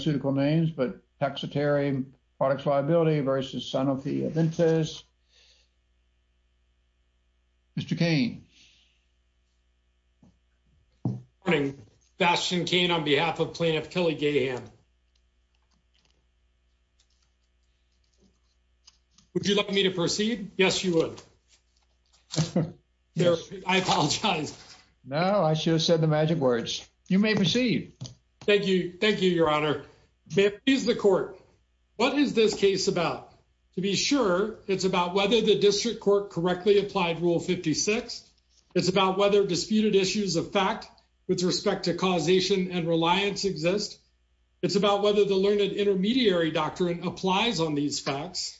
Mr. Koehn, on behalf of plaintiff Kelly Gahan, would you like me to proceed? Yes, you would. I apologize. No, I should have said the magic words. You may proceed. Thank you. Thank you, Your Honor. May it please the Court, what is this case about? To be sure, it's about whether the district court correctly applied Rule 56. It's about whether disputed issues of fact with respect to causation and reliance exist. It's about whether the learned intermediary doctrine applies on these facts.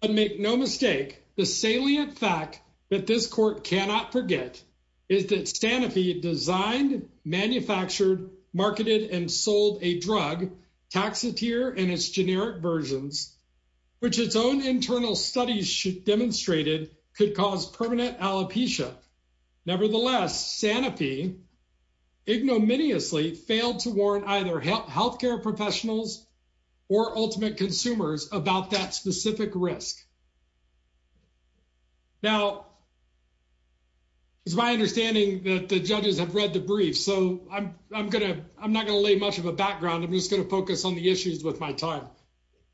But make no mistake, the salient fact that this court cannot forget is that Sanofi designed, manufactured, marketed, and sold a drug, Taxotere, in its generic versions, which its own internal studies demonstrated could cause permanent alopecia. Nevertheless, Sanofi ignominiously failed to warn either healthcare professionals or ultimate consumers about that specific risk. Now, it's my understanding that the judges have read the brief, so I'm not going to lay much of a background. I'm just going to focus on the issues with my time.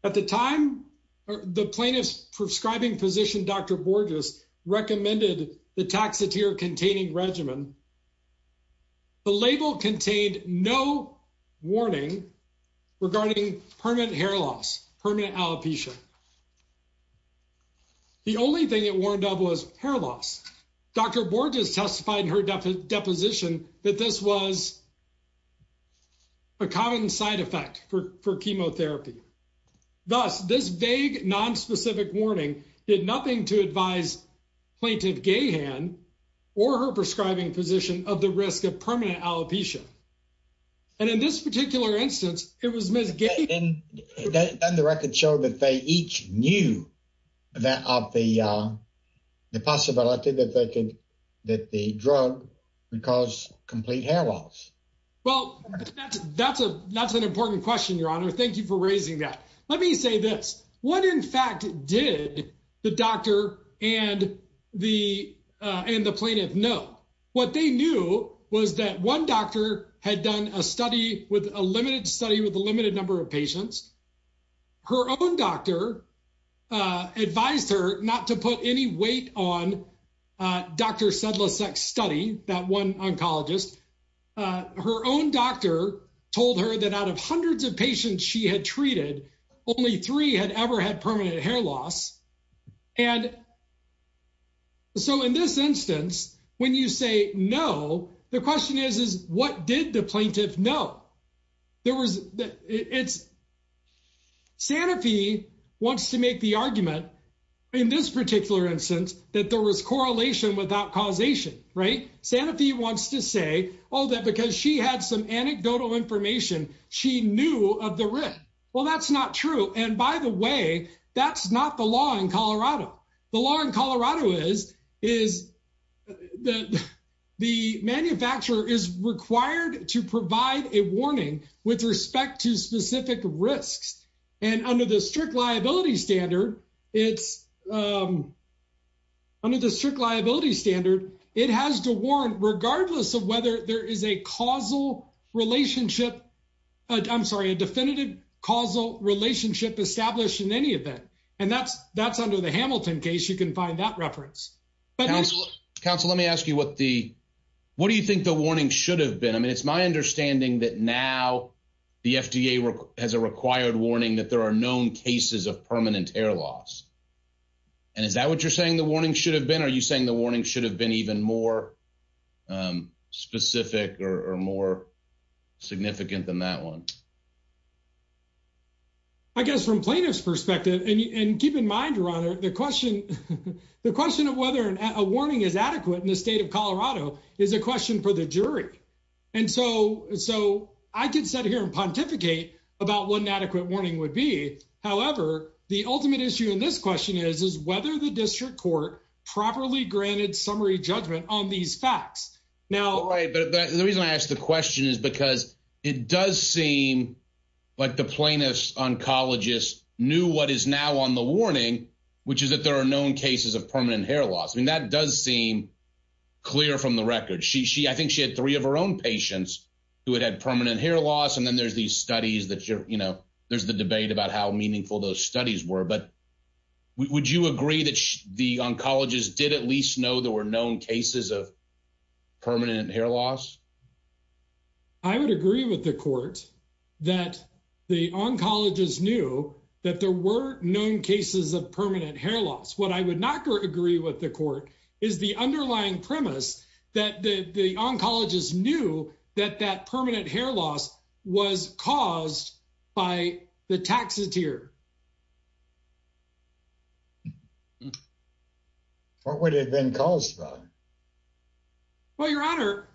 At the time, the plaintiff's prescribing physician, Dr. Borges, recommended the Taxotere-containing regimen. The label contained no warning regarding permanent hair loss, permanent alopecia. The only thing it warned of was hair loss. Dr. Borges testified in her deposition that this was a common side effect for chemotherapy. Thus, this vague, nonspecific warning did nothing to advise Plaintiff Gahan or her prescribing physician of the risk of permanent alopecia. And in this particular instance, it was Ms. Gahan— And then the record showed that they each knew of the possibility that the drug would cause complete hair loss. Well, that's an important question, Your Honor. Thank you for raising that. Let me say this. What, in fact, did the doctor and the plaintiff know? What they knew was that one doctor had done a limited study with a limited number of patients. Her own doctor advised her not to put any weight on Dr. Sedlicek's study, that one oncologist. Her own doctor told her that out of hundreds of patients she had treated, only three had ever had permanent hair loss. And so in this instance, when you say no, the question is, what did the plaintiff know? Sanofi wants to make the argument, in this particular instance, that there was correlation without causation, right? Sanofi wants to say, oh, that because she had some anecdotal information, she knew of the risk. Well, that's not true. And by the way, that's not the law in Colorado. The law in Colorado is that the manufacturer is required to provide a warning with respect to specific risks. And under the strict liability standard, it has to warrant regardless of whether there is a causal relationship, I'm sorry, a definitive causal relationship established in any event. And that's under the Hamilton case, you can find that reference. Counsel, let me ask you, what do you think the warning should have been? I mean, it's my understanding that now the FDA has a required warning that there are known cases of permanent hair loss. And is that what you're saying the warning should have been? Are you saying the warning should have been even more specific or more significant than that one? I guess from plaintiff's perspective, and keep in mind, your honor, the question of whether a warning is adequate in the state of Colorado is a question for the jury. And so I could sit here and pontificate about what an adequate warning would be. However, the ultimate issue in this question is, is whether the district court properly granted summary judgment on these facts. Right. But the reason I ask the question is because it does seem like the plaintiff's oncologist knew what is now on the warning, which is that there are known cases of permanent hair loss. I mean, that does seem clear from the record. I think she had three of her own patients who had had permanent hair loss. And then there's these studies that, you know, there's the debate about how meaningful those studies were. But would you agree that the known cases of permanent hair loss? I would agree with the court that the oncologist knew that there were known cases of permanent hair loss. What I would not agree with the court is the underlying premise that the oncologist knew that that permanent hair loss was caused by the taxidermist. What would it have been caused by? Well, your honor,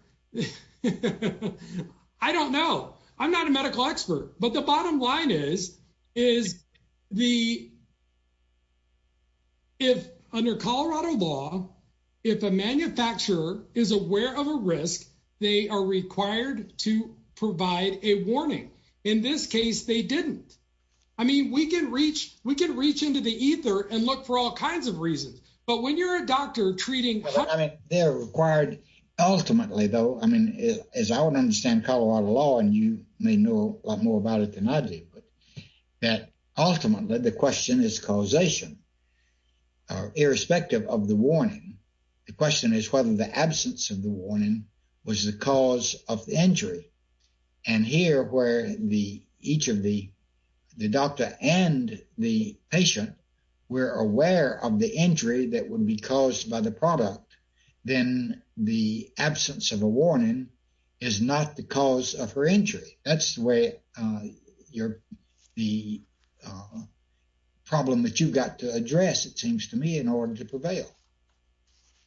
I don't know. I'm not a medical expert, but the bottom line is, is the if under Colorado law, if a manufacturer is aware of a risk, they are required to provide a warning. In this case, they didn't. I mean, we can reach, we can reach into the ether and look for all kinds of reasons. But when you're a doctor treating, they're required ultimately, though, I mean, as I would understand Colorado law, and you may know a lot more about it than I do, but that ultimately the question is causation. Irrespective of the warning. The question is whether the absence of the warning was the cause of the injury. And here where the, each of the, the doctor and the patient were aware of the injury that would be caused by the product, then the absence of a warning is not the cause of her injury. That's the way your, the problem that you've got to address, it seems to me in order to prevail.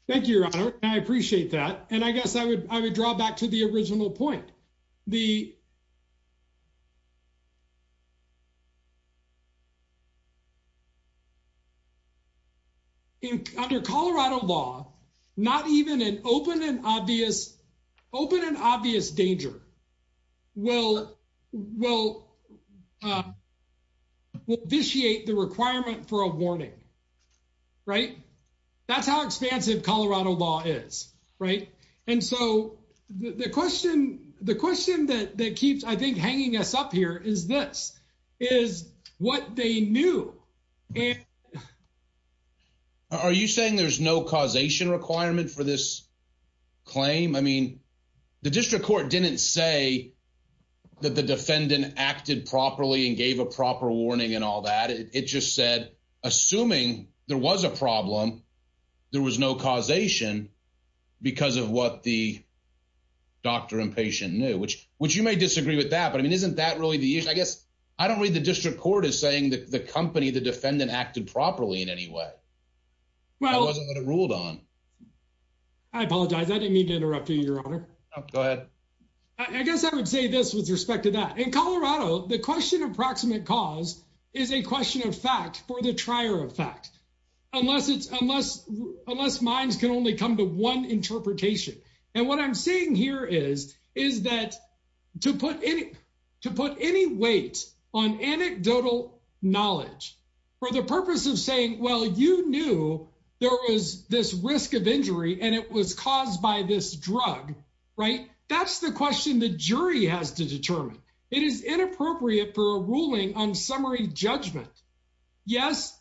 Thank you, your honor. I appreciate that. And I guess I would, I would draw back to the original point. The, under Colorado law, not even an open and obvious, open and obvious danger will, will, will vitiate the requirement for a warning, right? That's how expansive Colorado law is, right? And so the question, the question that keeps, I think, hanging us up here is this, is what they knew. Are you saying there's no causation requirement for this claim? I mean, the district court didn't say that the defendant acted properly and gave a proper warning and all that. It just said, assuming there was a problem, there was no causation because of what the doctor and patient knew, which, which you may disagree with that, but I mean, isn't that really the issue? I guess, I don't read the district court as saying that the company, the defendant acted properly in any way. That wasn't what it ruled on. Well, I apologize. I didn't mean to go ahead. I guess I would say this with respect to that. In Colorado, the question of proximate cause is a question of fact for the trier of fact, unless it's, unless, unless minds can only come to one interpretation. And what I'm saying here is, is that to put any, to put any weight on anecdotal knowledge for the purpose of saying, well, you knew there was this risk of right? That's the question the jury has to determine. It is inappropriate for a ruling on summary judgment. Yes,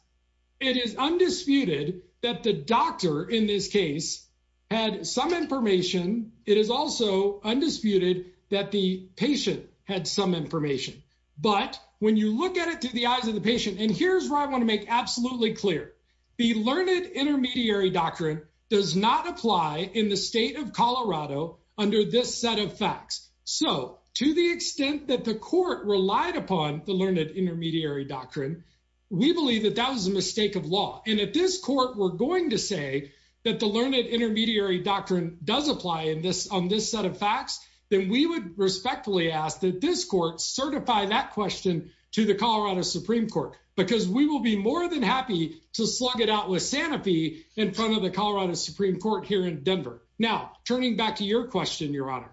it is undisputed that the doctor in this case had some information. It is also undisputed that the patient had some information, but when you look at it through the eyes of the patient, and here's where I want to make absolutely clear, the learned intermediary doctrine does not apply in the state of Colorado under this set of facts. So to the extent that the court relied upon the learned intermediary doctrine, we believe that that was a mistake of law. And at this court, we're going to say that the learned intermediary doctrine does apply in this, on this set of facts, then we would respectfully ask that this court certify that question to the Colorado Supreme court, because we will be more than happy to slug it out with the Colorado Supreme court here in Denver. Now, turning back to your question, your honor,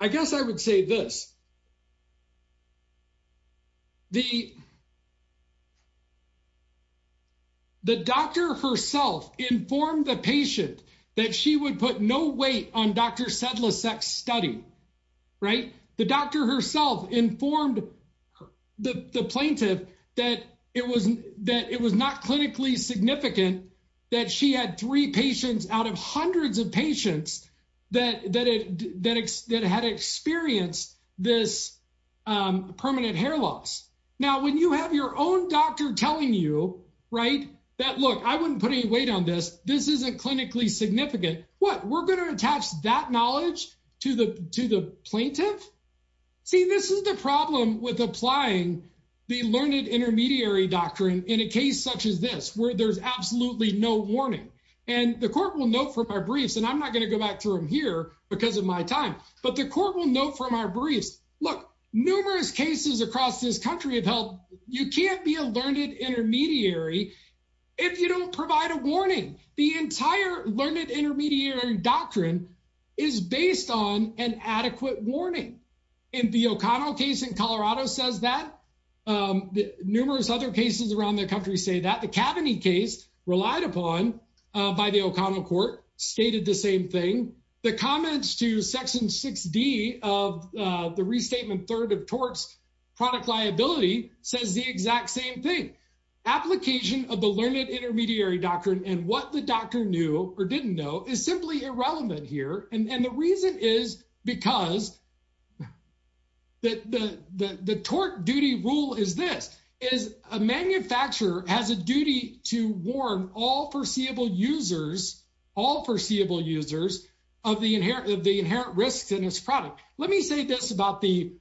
I guess I would say this, the, the doctor herself informed the patient that she would put no weight on Dr. Sedla's sex study, right? The doctor herself informed the plaintiff that it was, that it was not clinically significant that she had three patients out of hundreds of patients that, that, that, that had experienced this permanent hair loss. Now, when you have your own doctor telling you, right, that, look, I wouldn't put any weight on this. This isn't clinically significant. What? We're going to attach that knowledge to the, to the plaintiff? See, this is the problem with applying the learned intermediary doctrine in a case such as this, where there's absolutely no warning and the court will note for my briefs, and I'm not going to go back through them here because of my time, but the court will note from our briefs, look, numerous cases across this country have held. You can't be a learned intermediary. If you don't provide a warning, the entire learned intermediary doctrine is based on an adequate warning. In the O'Connell case in Colorado says that. Numerous other cases around the country say that. The Kaveny case relied upon by the O'Connell court stated the same thing. The comments to section 6D of the restatement third of torts product liability says the exact same thing. Application of the learned intermediary doctrine and what the doctor knew or didn't know is simply irrelevant here, and the reason is because the tort duty rule is this, is a manufacturer has a duty to warn all foreseeable users, all foreseeable users, of the inherent risks in this product. Let me say this about the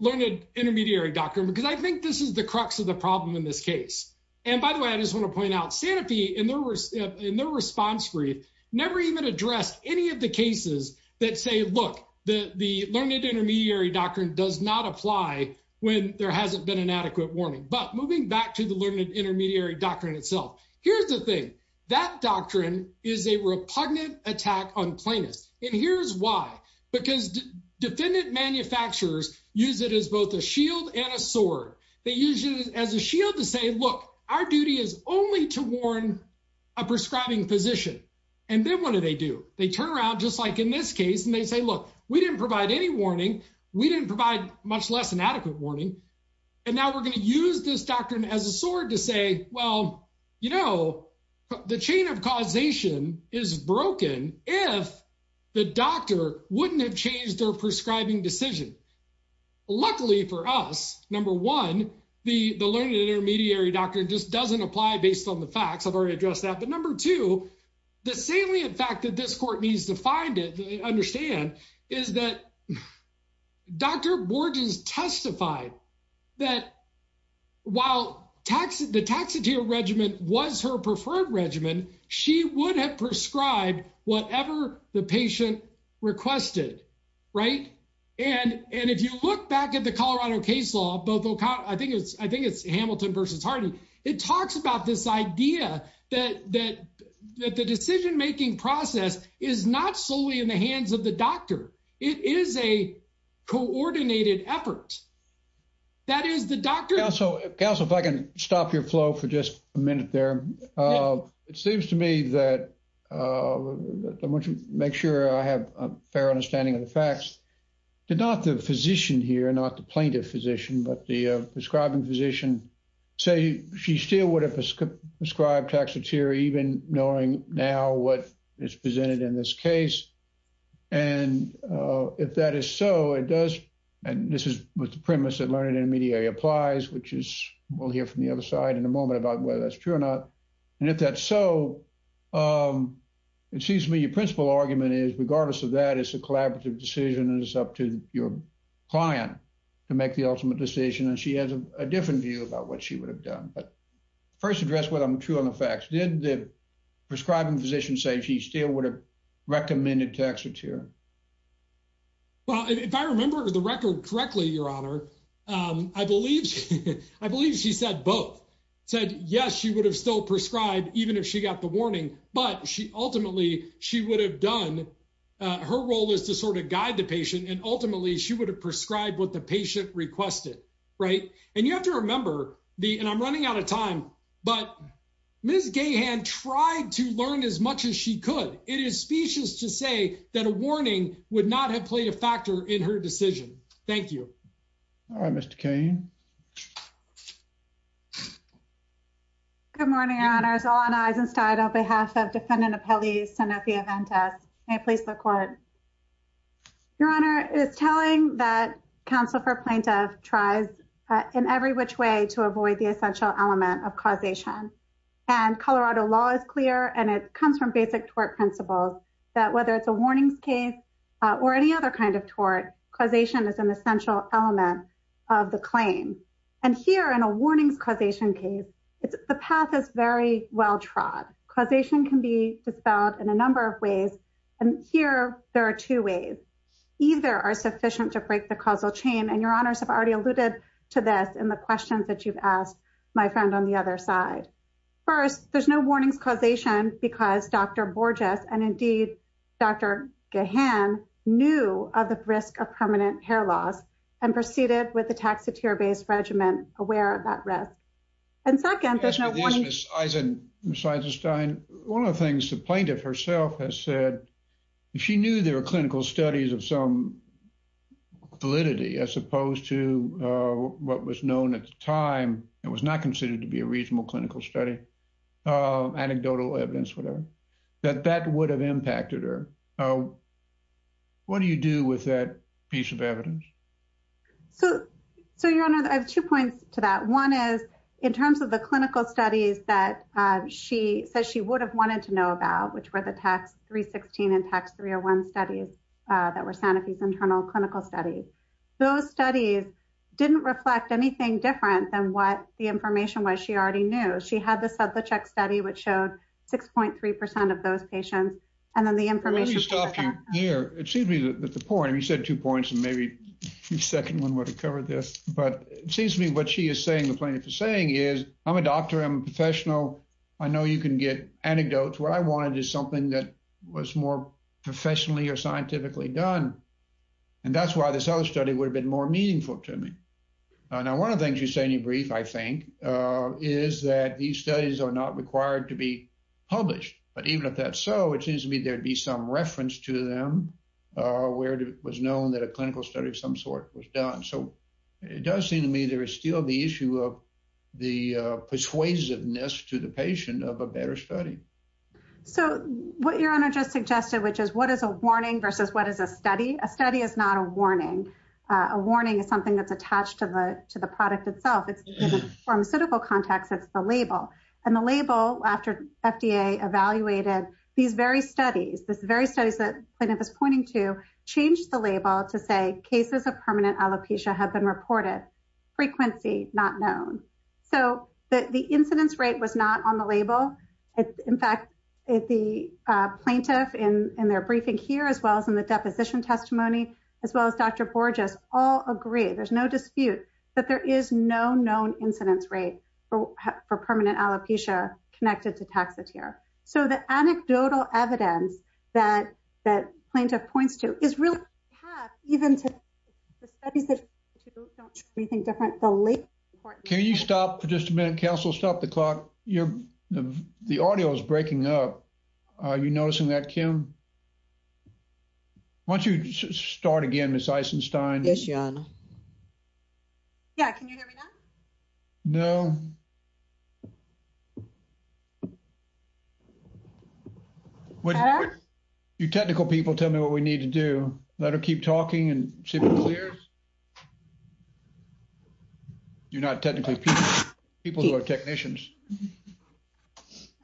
learned intermediary doctrine, because I think this is the crux of the problem in this case. And by the way, I just want to point out, Sanofi in their response brief never even addressed any of the cases that say, look, the learned intermediary doctrine does not apply when there hasn't been an adequate warning. But moving back to the learned intermediary doctrine itself, here's the thing. That doctrine is a repugnant attack on plaintiffs, and here's why. Because defendant manufacturers use it as both a shield and a sword. They use it as a shield to say, look, our duty is only to warn a prescribing physician. And then what do they do? They turn around, just like in this case, and they say, look, we didn't provide any warning, we didn't provide much less than adequate warning, and now we're going to use this doctrine as a sword to say, well, you know, the chain of causation is broken if the doctor wouldn't have changed their prescribing decision. Luckily for us, number one, the learned intermediary doctrine just doesn't apply based on the facts. I've already addressed that. But number two, the salient fact that this court needs to find it, understand, is that Dr. Borges testified that while the taxatier regimen was her preferred regimen, she would have prescribed whatever the right. And if you look back at the Colorado case law, I think it's Hamilton versus Hardy, it talks about this idea that the decision-making process is not solely in the hands of the doctor. It is a coordinated effort. That is the doctor- Counsel, if I can stop your flow for just a minute there. It seems to me that, I want to make sure I have a fair understanding of the facts, not the physician here, not the plaintiff physician, but the prescribing physician, she still would have prescribed taxatier even knowing now what is presented in this case. And if that is so, it does, and this is what the premise of learned intermediary applies, which is, we'll hear from the other side in a moment about whether that's true or not. And if that's so, it seems to me your principal argument is, regardless of that, it's a collaborative decision and it's up to your client to make the ultimate decision. And she has a different view about what she would have done. But first address what I'm true on the facts. Did the prescribing physician say she still would have recommended taxatier? Well, if I remember the record correctly, your honor, I believe she said both. Said, yes, she would have still prescribed even if she got the warning, but she ultimately, she would have done, her role is to sort of guide the patient and ultimately she would have prescribed what the patient requested, right? And you have to remember the, and I'm running out of time, but Ms. Gahan tried to learn as much as she could. It is specious to say that a warning would not have played a factor in her decision. Thank you. All right, Mr. Kane. Good morning, your honors. Alana Eisenstein on behalf of defendant appellee Sanofi Aventis. May I please look forward? Your honor is telling that counsel for plaintiff tries in every which way to avoid the essential element of causation. And Colorado law is clear and it comes from basic tort principles that whether it's a warnings case or any other kind of tort, causation is essential element of the claim. And here in a warnings causation case, the path is very well trod. Causation can be dispelled in a number of ways. And here there are two ways, either are sufficient to break the causal chain. And your honors have already alluded to this in the questions that you've asked my friend on the other side. First, there's no warnings causation because Dr. Borges and indeed Dr. Gahan knew of the risk of and proceeded with the taxidermist regimen aware of that risk. And second, there's no warning. Ms. Eisenstein, one of the things the plaintiff herself has said, she knew there were clinical studies of some validity as opposed to what was known at the time and was not considered to be a reasonable clinical study, anecdotal evidence, whatever, that that would have impacted her. What do you do with that piece of evidence? So, so your honor, I have two points to that. One is in terms of the clinical studies that she says she would have wanted to know about, which were the tax 316 and tax 301 studies that were Sanofi's internal clinical studies. Those studies didn't reflect anything different than what the information was she already knew. She had the Sublacheck study, which showed 6.3% of those patients. And then the information. Here, it seems to me that the point, and you said two points and maybe the second one would have covered this, but it seems to me what she is saying, the plaintiff is saying is, I'm a doctor, I'm a professional. I know you can get anecdotes. What I wanted is something that was more professionally or scientifically done. And that's why this other study would have been more meaningful to me. Now, one of the things you say in your brief, I think, is that these studies are not required to be published. But even if that's so, it seems to me there'd be some reference to them where it was known that a clinical study of some sort was done. So it does seem to me there is still the issue of the persuasiveness to the patient of a better study. So what your honor just suggested, which is what is a warning versus what is a study? A study is not a warning. A warning is something that's attached to the product itself. In the pharmaceutical context, it's the label. And the label, after FDA evaluated these very studies, the very studies that plaintiff is pointing to, changed the label to say cases of permanent alopecia have been reported. Frequency, not known. So the incidence rate was not on the label. In fact, the plaintiff in their briefing here, as well as in the deposition testimony, as well as Dr. Borges, all agree, there's no dispute, that there is no known incidence rate for permanent alopecia connected to Taxotere. So the anecdotal evidence that the plaintiff points to is really even to the studies that don't show anything different. Can you stop for just a minute, counsel? Stop the clock. The audio is breaking up. Are you noticing that, Kim? Why don't you start again, Ms. Eisenstein? Yes, your honor. Yeah, can you hear me now? No. You technical people tell me what we need to do. Let her keep talking and see if it's clear. You're not technically people who are technicians.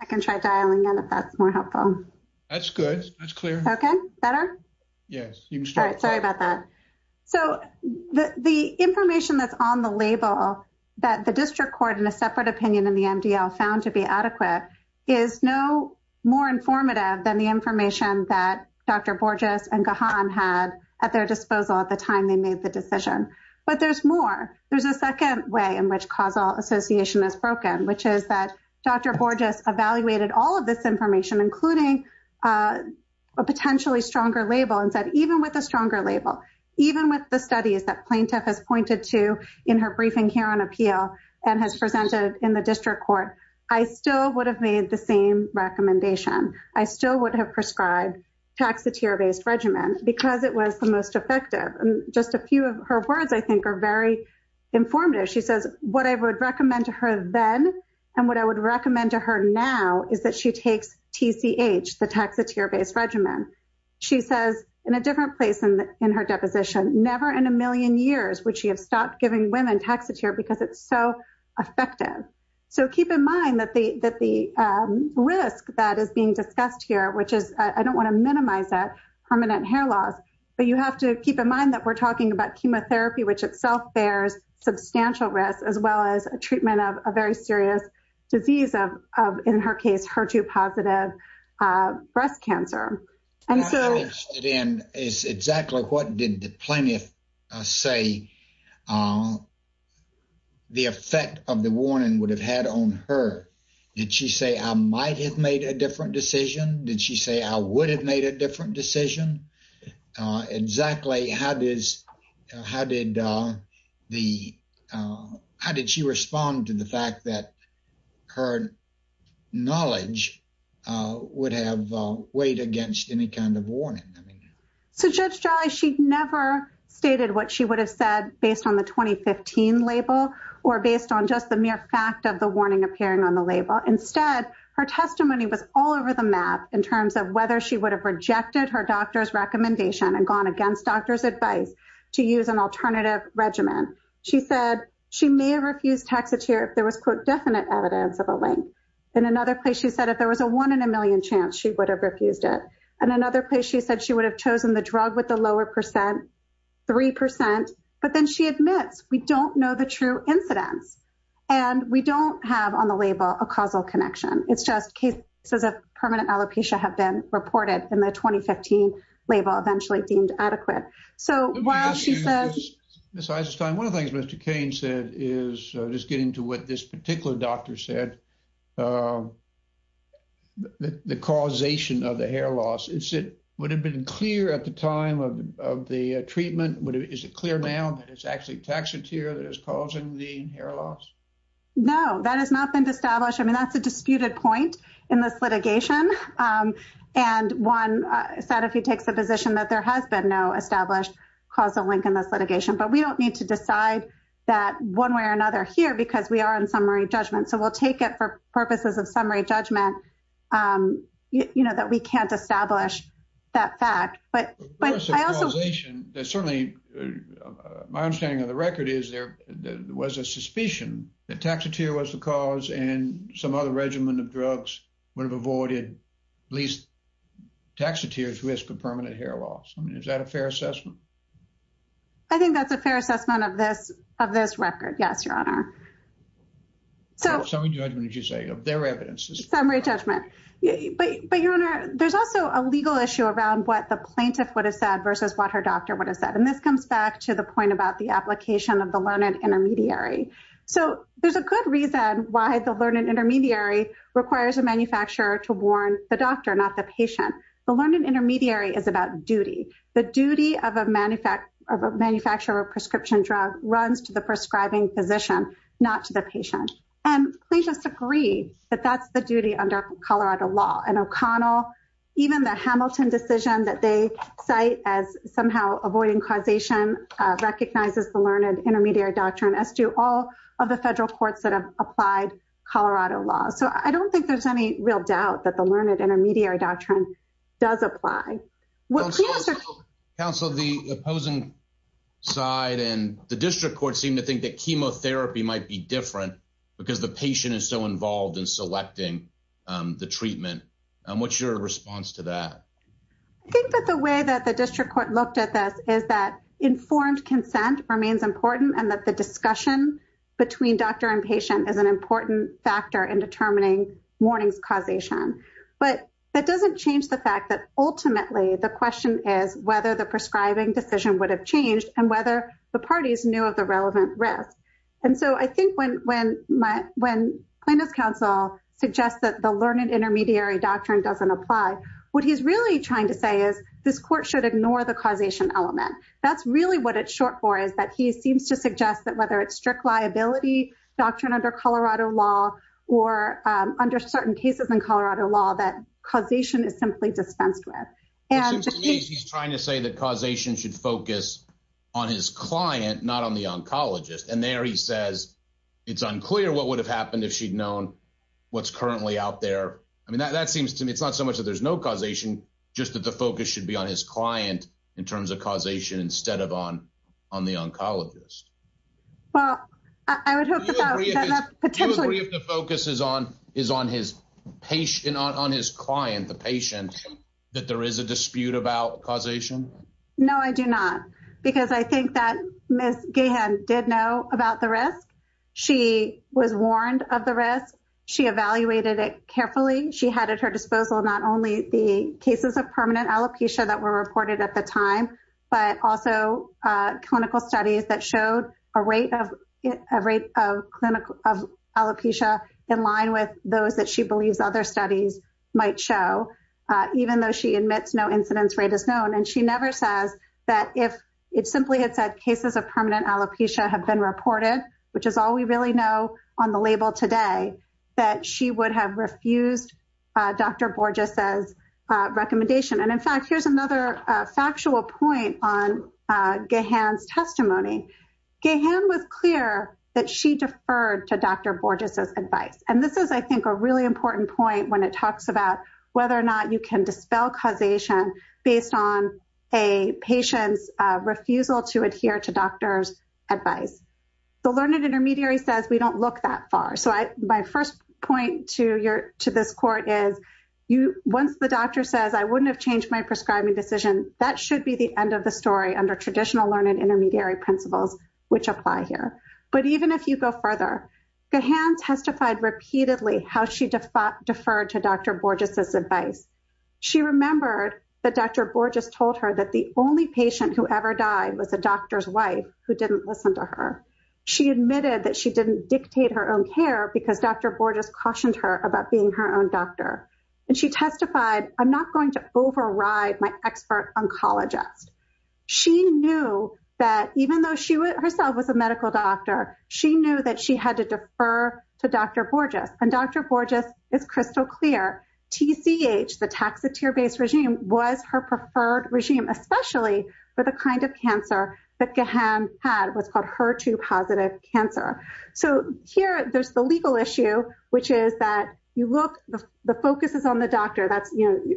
I can try dialing in if that's more helpful. That's good. That's clear. Okay. Better? Yes. Sorry about that. So the information that's on the label that the district court in a separate opinion in the MDL found to be adequate is no more informative than the information that Dr. Borges and Gahan had at their disposal at the time they made the decision. But there's more. There's a second way in which causal association is broken, which is that Dr. Borges evaluated all of this information, including a potentially stronger label, and said, even with a stronger label, even with the studies that plaintiff has pointed to in her briefing here on appeal and has presented in the district court, I still would have made the same recommendation. I still would have prescribed taxatier-based regimen because it was the most effective. Just a few of her words, I think, are very informative. She says, what I would recommend to her then and what I would recommend to her now is that she takes TCH, the taxatier-based regimen. She says, in a different place in her deposition, never in a million years would she have stopped giving women taxatier because it's so effective. So keep in mind that the risk that is being discussed here, which is, I don't want to minimize it, permanent hair loss, but you have to keep in mind that we're talking about chemotherapy, which itself bears substantial risk, as well as a treatment of a very serious disease of, in her case, HER2-positive breast cancer. What I'm interested in is exactly what did the plaintiff say the effect of the warning would have had on her. Did she say, I might have made a different decision? Did she say, I would have made a different decision? Exactly. How did she respond to the fact that her knowledge would have weighed against any kind of warning? So Judge Jolly, she never stated what she would have said based on the 2015 label or based on just the mere fact of the warning appearing on the label. Instead, her testimony was all over the in terms of whether she would have rejected her doctor's recommendation and gone against doctor's advice to use an alternative regimen. She said she may have refused taxatier if there was, quote, definite evidence of a link. In another place, she said if there was a one in a million chance, she would have refused it. In another place, she said she would have chosen the drug with the lower percent, 3%, but then she admits we don't know the true incidence and we don't have on the label a causal connection. It's just cases of permanent alopecia have been reported in the 2015 label, eventually deemed adequate. So while she says... Ms. Eisenstein, one of the things Mr. Kane said is, just getting to what this particular doctor said, the causation of the hair loss, would it have been clear at the time of the treatment? Is it clear now that it's actually taxatier that is causing the hair loss? No, that has not been established. I mean, that's a disputed point in this litigation. And one said, if he takes the position that there has been no established causal link in this litigation, but we don't need to decide that one way or another here, because we are in summary judgment. So we'll take it for purposes of summary judgment, you know, that we can't establish that fact, but... My understanding of the record is there was a suspicion that taxatier was the cause and some other regimen of drugs would have avoided at least taxatier's risk of permanent hair loss. I mean, is that a fair assessment? I think that's a fair assessment of this record. Yes, Your Honor. Summary judgment, as you say, of their evidence. Summary judgment. But Your Honor, there's also a legal issue around what the plaintiff would have said. And this comes back to the point about the application of the learned intermediary. So there's a good reason why the learned intermediary requires a manufacturer to warn the doctor, not the patient. The learned intermediary is about duty. The duty of a manufacturer of a prescription drug runs to the prescribing physician, not to the patient. And please just agree that that's the duty under Colorado law. And O'Connell, even the Hamilton decision that they cite as somehow avoiding causation recognizes the learned intermediary doctrine as do all of the federal courts that have applied Colorado law. So I don't think there's any real doubt that the learned intermediary doctrine does apply. Counsel, the opposing side and the district court seem to think that chemotherapy might be different because the patient is so involved in selecting the treatment. What's your response to that? I think that the way that the district court looked at this is that informed consent remains important and that the discussion between doctor and patient is an important factor in determining warnings causation. But that doesn't change the fact that ultimately the question is whether the prescribing decision would have changed and whether the parties knew of the relevant risk. And so I think when my when plaintiff's counsel suggests that the learned intermediary doctrine doesn't apply, what he's really trying to say is this court should ignore the causation element. That's really what it's short for is that he seems to suggest that whether it's strict liability doctrine under Colorado law or under certain cases in Colorado law that causation is simply dispensed with. And he's trying to say that causation should focus on his client, not on oncologist. And there he says it's unclear what would have happened if she'd known what's currently out there. I mean, that seems to me it's not so much that there's no causation, just that the focus should be on his client in terms of causation instead of on on the oncologist. Well, I would hope that that potentially focuses on his patient on his client, the patient, that there is a dispute about causation. No, I do not, because I think that Ms. Gahan did know about the risk. She was warned of the risk. She evaluated it carefully. She had at her disposal not only the cases of permanent alopecia that were reported at the time, but also clinical studies that showed a rate of a rate of clinical of alopecia in line with those that she believes other studies might show, even though she admits no incidence rate is known. And she never says that if it simply had said cases of permanent alopecia have been reported, which is all we really know on the label today, that she would have refused Dr. Borges' recommendation. And in fact, here's another factual point on Gahan's testimony. Gahan was clear that she deferred to Dr. Borges' advice. And this is, I think, a really important point when it talks about whether or not you can dispel causation based on a patient's refusal to adhere to doctors' advice. The learned intermediary says we don't look that far. So, my first point to this court is, once the doctor says, I wouldn't have changed my prescribing decision, that should be the end of the story under traditional learned intermediary principles, which apply here. But even if you go further, Gahan testified repeatedly how she deferred to Dr. Borges' advice. She remembered that Dr. Borges told her that the only patient who ever died was a doctor's wife who didn't listen to her. She admitted that she didn't dictate her own care because Dr. Borges cautioned her about being her own doctor. And she testified, I'm not going to override my expert oncologist. She knew that even though she herself was a medical doctor, she knew that she had to defer to Dr. Borges. And Dr. Borges, it's crystal clear, TCH, the taxateer-based regime, was her preferred regime, especially for the kind of cancer that Gahan had, what's called HER2-positive cancer. So, here, there's the legal issue, which is that the focus is on the doctor.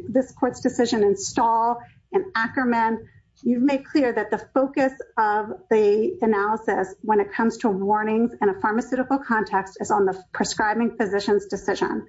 This court's decision in Stahl and Ackerman, you've made clear that the focus of the analysis when it comes to warnings in a pharmaceutical context is on the prescribing physician's decision.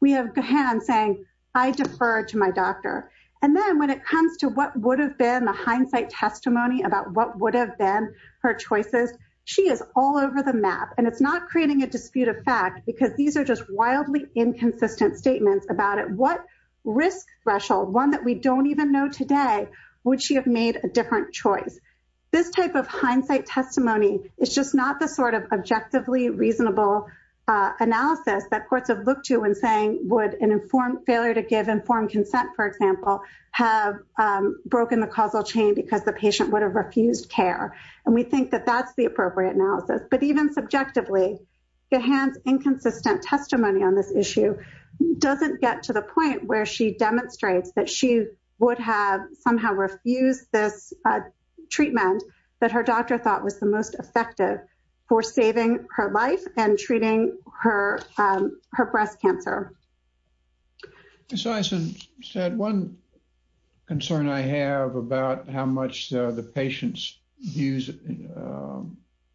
We have Gahan saying, I defer to my doctor. And then when it comes to what would have been the hindsight testimony about what would have been her choices, she is all over the map. And it's not creating a dispute of fact because these are just wildly inconsistent statements about it. What risk threshold, one that we don't even know today, would she have made a different choice? This type of hindsight testimony is just not the sort of objectively reasonable analysis that courts have looked to in saying would an informed failure to give informed consent, for example, have broken the causal chain because the patient would have refused care. And we think that that's the appropriate analysis. But even subjectively, Gahan's inconsistent testimony on this issue doesn't get to the point where she demonstrates that she would have somehow refused this treatment that her doctor thought was the most effective for saving her life and treating her breast cancer. As I said, one concern I have about how much the patient's views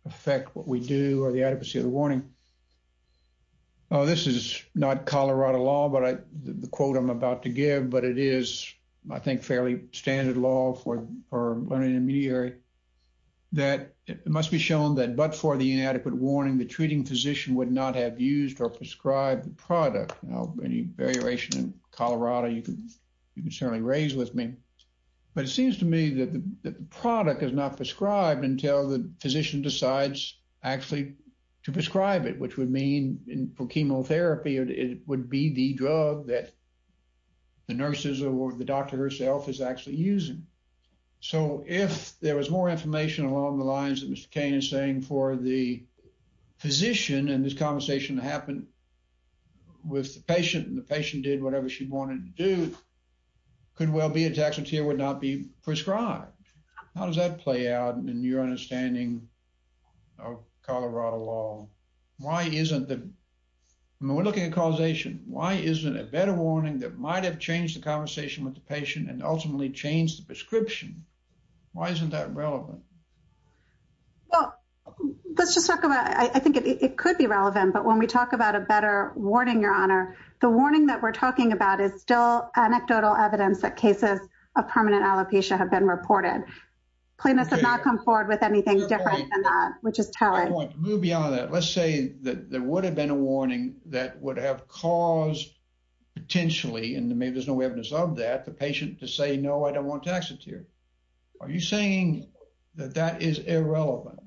affect what we do or the adequacy of the warning. This is not Colorado law, but the quote I'm about to give, but it is, I think, fairly standard law for an intermediary, that it must be shown that but for the inadequate warning, the treating physician would not have used or prescribed the product. Now, any variation in Colorado, you can certainly raise with me. But it seems to me that the product is not prescribed until the physician decides actually to prescribe it, which would mean for chemotherapy, it would be the drug that the nurses or the doctor herself is actually using. So if there was more information along the lines that Mr. Kane is saying for the physician, and this conversation happened with the patient, and the patient did whatever she wanted to do, could well be a taxotere would not be prescribed. How does that play out in your understanding of Colorado law? Why isn't the, when we're looking at causation, why isn't a better warning that might have changed the conversation with the patient and ultimately changed the prescription? Why isn't that relevant? Well, let's just talk about, I think it could be relevant. But when we talk about a better warning, Your Honor, the warning that we're talking about is still anecdotal evidence that cases of permanent alopecia have been reported. Clinics have not come forward with anything different than that, which is telling. Move beyond that. Let's say that there would have been a warning that would have caused potentially, and maybe there's no evidence of that, the patient to say, no, I don't want to taxotere. Are you saying that that is irrelevant?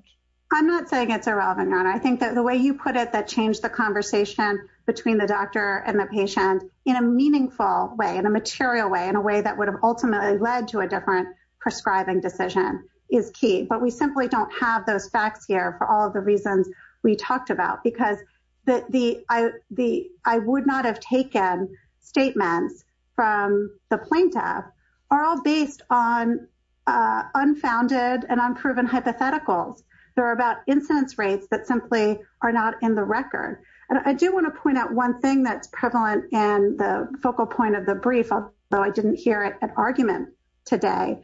I'm not saying it's irrelevant, Your Honor. I think that the way you put it, that changed the conversation between the doctor and the patient in a meaningful way, in a material way, in a way that would have ultimately led to a different prescribing decision is key. But we simply don't have those facts here for all of the reasons we talked about, because the I would not have taken statements from the plaintiff are all based on unfounded and unproven hypotheticals. They're about incidence rates that simply are not in the record. And I do want to point out one thing that's prevalent in the focal point of the brief, though I didn't hear an argument today.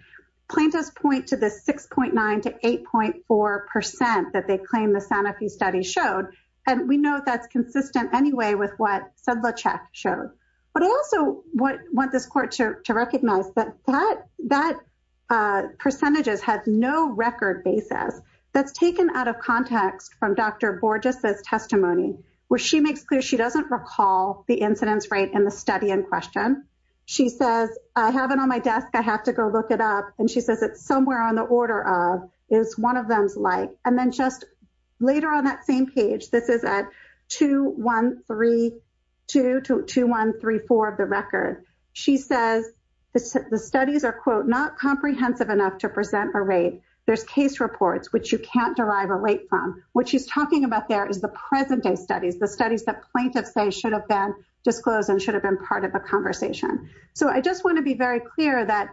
Plaintiffs point to the 6.9 to 8.4 percent that they claim the Sanofi study showed, and we know that's consistent anyway with what Sedlacek showed. But I also want this court to recognize that percentages have no record basis. That's taken out of context from Dr. Borges' testimony, where she makes clear she doesn't recall the incidence rate in the study in question. She says, I have it on my desk. I have to go look it up. And she says it's somewhere on the order of is one of them's like. And then just later on that same page, this is at 2-1-3-2 to 2-1-3-4 of the record. She says the studies are, quote, not comprehensive enough to present a rate. There's case reports, which you can't derive a rate from. What she's talking about there is the present-day studies, the studies that plaintiffs say should have been disclosed and been part of a conversation. So I just want to be very clear that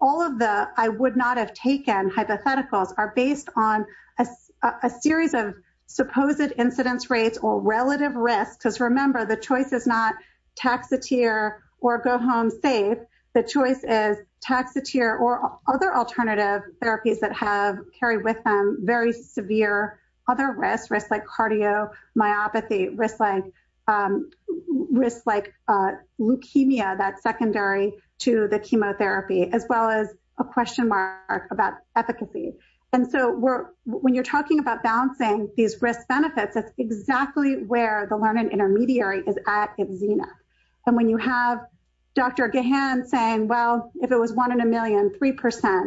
all of the I would not have taken hypotheticals are based on a series of supposed incidence rates or relative risks. Because remember, the choice is not taxateer or go-home safe. The choice is taxateer or other alternative therapies that have carried with them very severe other risks, risks like cardio, myopathy, risks like leukemia that's secondary to the chemotherapy, as well as a question mark about efficacy. And so when you're talking about balancing these risk benefits, that's exactly where the learning intermediary is at its zenith. And when you have Dr. Gahan saying, well, if it was one in a million, 3%,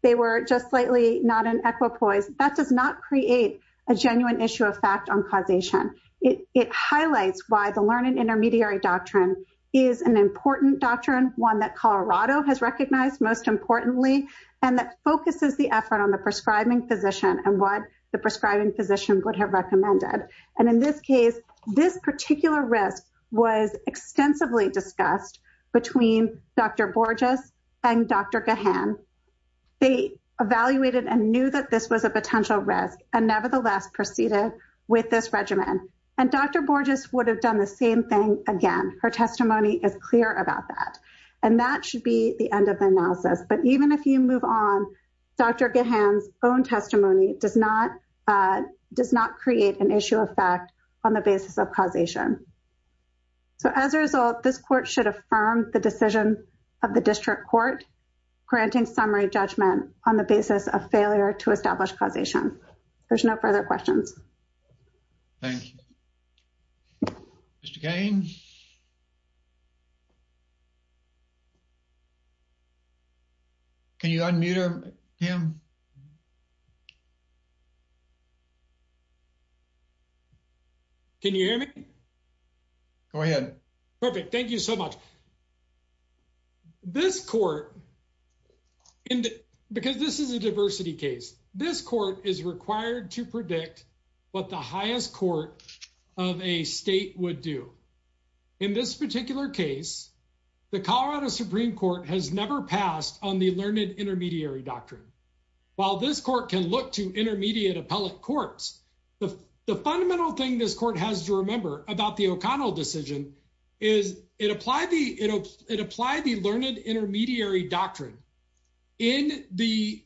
they were just slightly not in equipoise, that does not create a genuine issue of fact on causation. It highlights why the learning intermediary doctrine is an important doctrine, one that Colorado has recognized most importantly, and that focuses the effort on the prescribing physician and what the prescribing physician would have recommended. And in this case, this particular risk was extensively discussed between Dr. Borges and Dr. Gahan. They evaluated and knew that this was a potential risk and nevertheless proceeded with this regimen. And Dr. Borges would have done the same thing again. Her testimony is clear about that. And that should be the end of the analysis. But even if you move on, Dr. Gahan's own testimony does not create an issue of fact on the basis of causation. So as a result, this court should affirm the decision of the failure to establish causation. There's no further questions. Thank you. Mr. Cain? Can you unmute him? Can you hear me? Go ahead. Perfect. Thank you so much. This court, because this is a diversity case, this court is required to predict what the highest court of a state would do. In this particular case, the Colorado Supreme Court has never passed on the learned intermediary doctrine. While this court can look to intermediate appellate courts, the fundamental thing this is, it applied the learned intermediary doctrine in the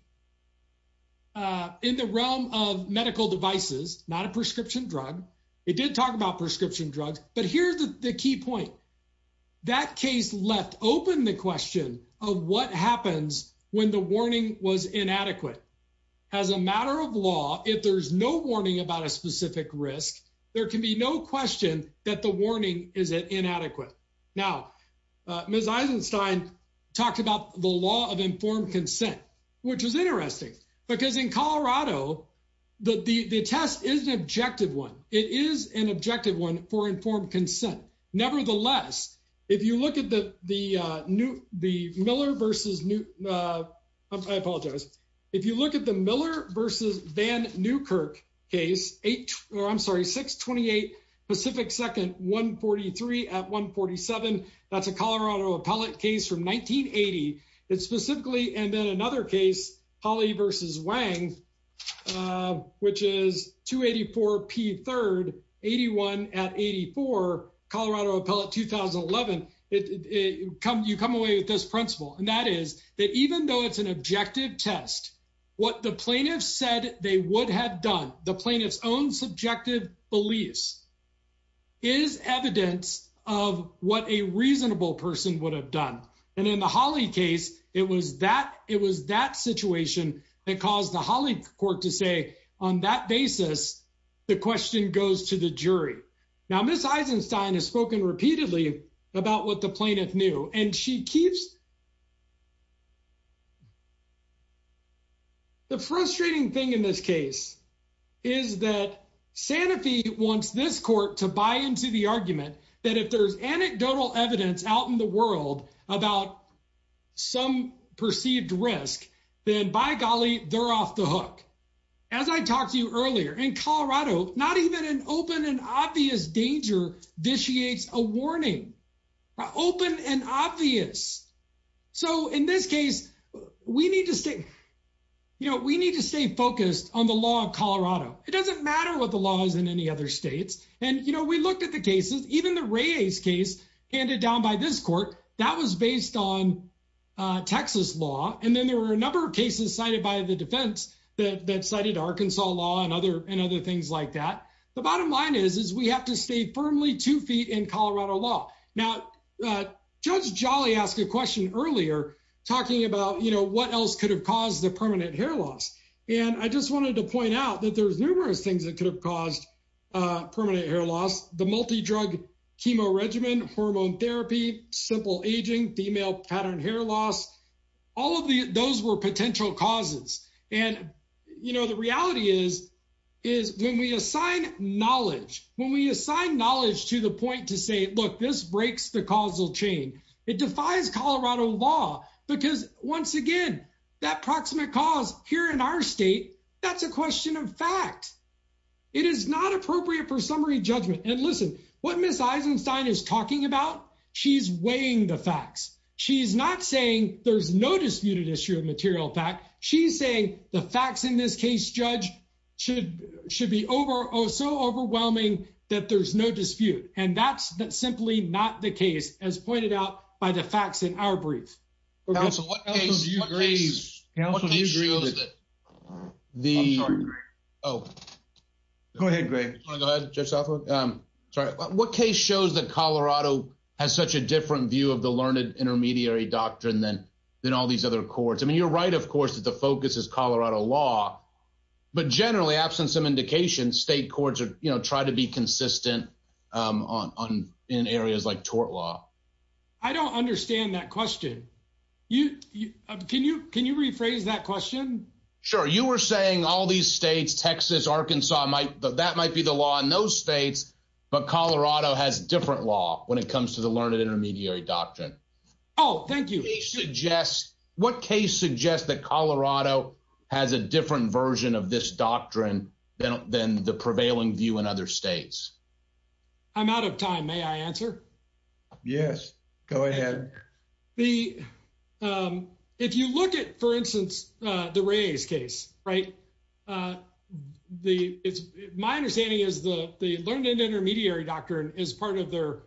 realm of medical devices, not a prescription drug. It did talk about prescription drugs. But here's the key point. That case left open the question of what happens when the warning was inadequate. As a matter of law, if there's no warning about a specific risk, there can be no question that warning is inadequate. Now, Ms. Eisenstein talked about the law of informed consent, which is interesting, because in Colorado, the test is an objective one. It is an objective one for informed consent. Nevertheless, if you look at the Miller v. Van Newkirk case, 628 Pacific 2nd, 143 at 147, that's a Colorado appellate case from 1980. It's specifically, and then another case, Hawley v. Wang, which is 284 P. 3rd, 81 at 84, Colorado appellate 2011. You come away with this principle, and that is that even though it's an objective test, what the plaintiff said they would have done, the plaintiff's own subjective beliefs, is evidence of what a reasonable person would have done. In the Hawley case, it was that situation that caused the Hawley court to say, on that basis, the question goes to the jury. Now, Ms. Eisenstein has spoken repeatedly about what the plaintiff knew, and she keeps The frustrating thing in this case is that Sanofi wants this court to buy into the argument that if there's anecdotal evidence out in the world about some perceived risk, then by golly, they're off the hook. As I talked to you earlier, in Colorado, not even an open and obvious danger vitiates a warning. Open and obvious. In this case, we need to stay focused on the law of Colorado. It doesn't matter what the law is in any other states. We looked at the cases, even the Reyes case handed down by this court, that was based on Texas law. Then there were a number of cases cited by the defense that cited Arkansas law and other things like that. The bottom line is, we have to stay firmly two feet in Colorado law. Now, Judge Jolly asked a question earlier, talking about what else could have caused the permanent hair loss. I just wanted to point out that there's numerous things that could have caused permanent hair loss. The multi-drug chemo regimen, hormone therapy, simple aging, female pattern hair loss, all of those were potential causes. The reality is, is when we assign knowledge, when we assign knowledge to the point to say, look, this breaks the causal chain, it defies Colorado law. Because once again, that proximate cause here in our state, that's a question of fact. It is not appropriate for summary judgment. And listen, what Ms. Eisenstein is talking about, she's weighing the facts. She's not saying there's no disputed issue of material fact. She's saying the facts in this case, Judge, should be so overwhelming that there's no dispute. And that's simply not the case, as pointed out by the facts in our brief. What case shows that Colorado has such a different view of the learned intermediary doctrine than all these other courts? I mean, you're right, of course, that the focus is Colorado law. But generally, absent some indication, state courts try to be consistent in areas like tort law. I don't understand that question. Can you rephrase that question? Sure. You were saying all these states, Texas, Arkansas, that might be the law in those states, but Colorado has different law when it comes to the learned intermediary doctrine. Oh, thank you. What case suggests that Colorado has a different version of this doctrine than the prevailing view in other states? I'm out of time. May I answer? Yes, go ahead. If you look at, for instance, the Reyes case, right? My understanding is the learned intermediary doctrine is part of their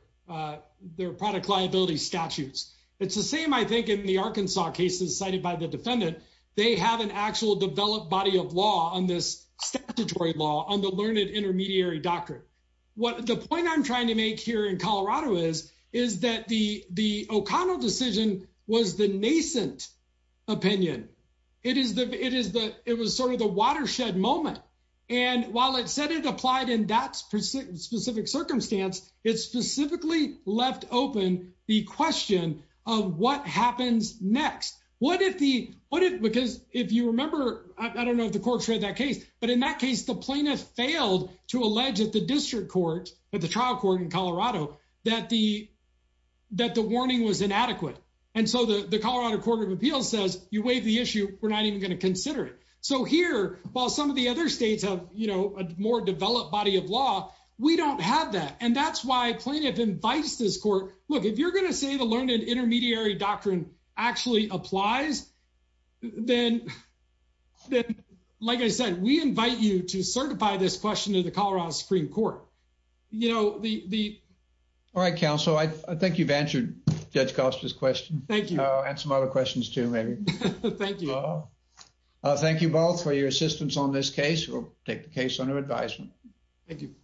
product liability statutes. It's the same, I think, in the Arkansas cases cited by the defendant. They have an actual developed body of law on this statutory law on the learned intermediary doctrine. The point I'm trying to make here in Colorado is that the O'Connell decision was the nascent opinion. It was sort of the watershed moment. While it said it applied in that specific circumstance, it specifically left open the question of what happens next. I don't know if the court read that case, but in that case, the plaintiff failed to allege at the district court, at the trial court in Colorado, that the warning was inadequate. The Colorado Court of Appeals says, you waive the other states of a more developed body of law. We don't have that. That's why plaintiff invites this court, look, if you're going to say the learned intermediary doctrine actually applies, then, like I said, we invite you to certify this question to the Colorado Supreme Court. All right, counsel. I think you've answered Judge Koster's question. Thank you. And some other questions too, maybe. Thank you. I thank you both for your assistance on this case. We'll take the case under advisement. Thank you.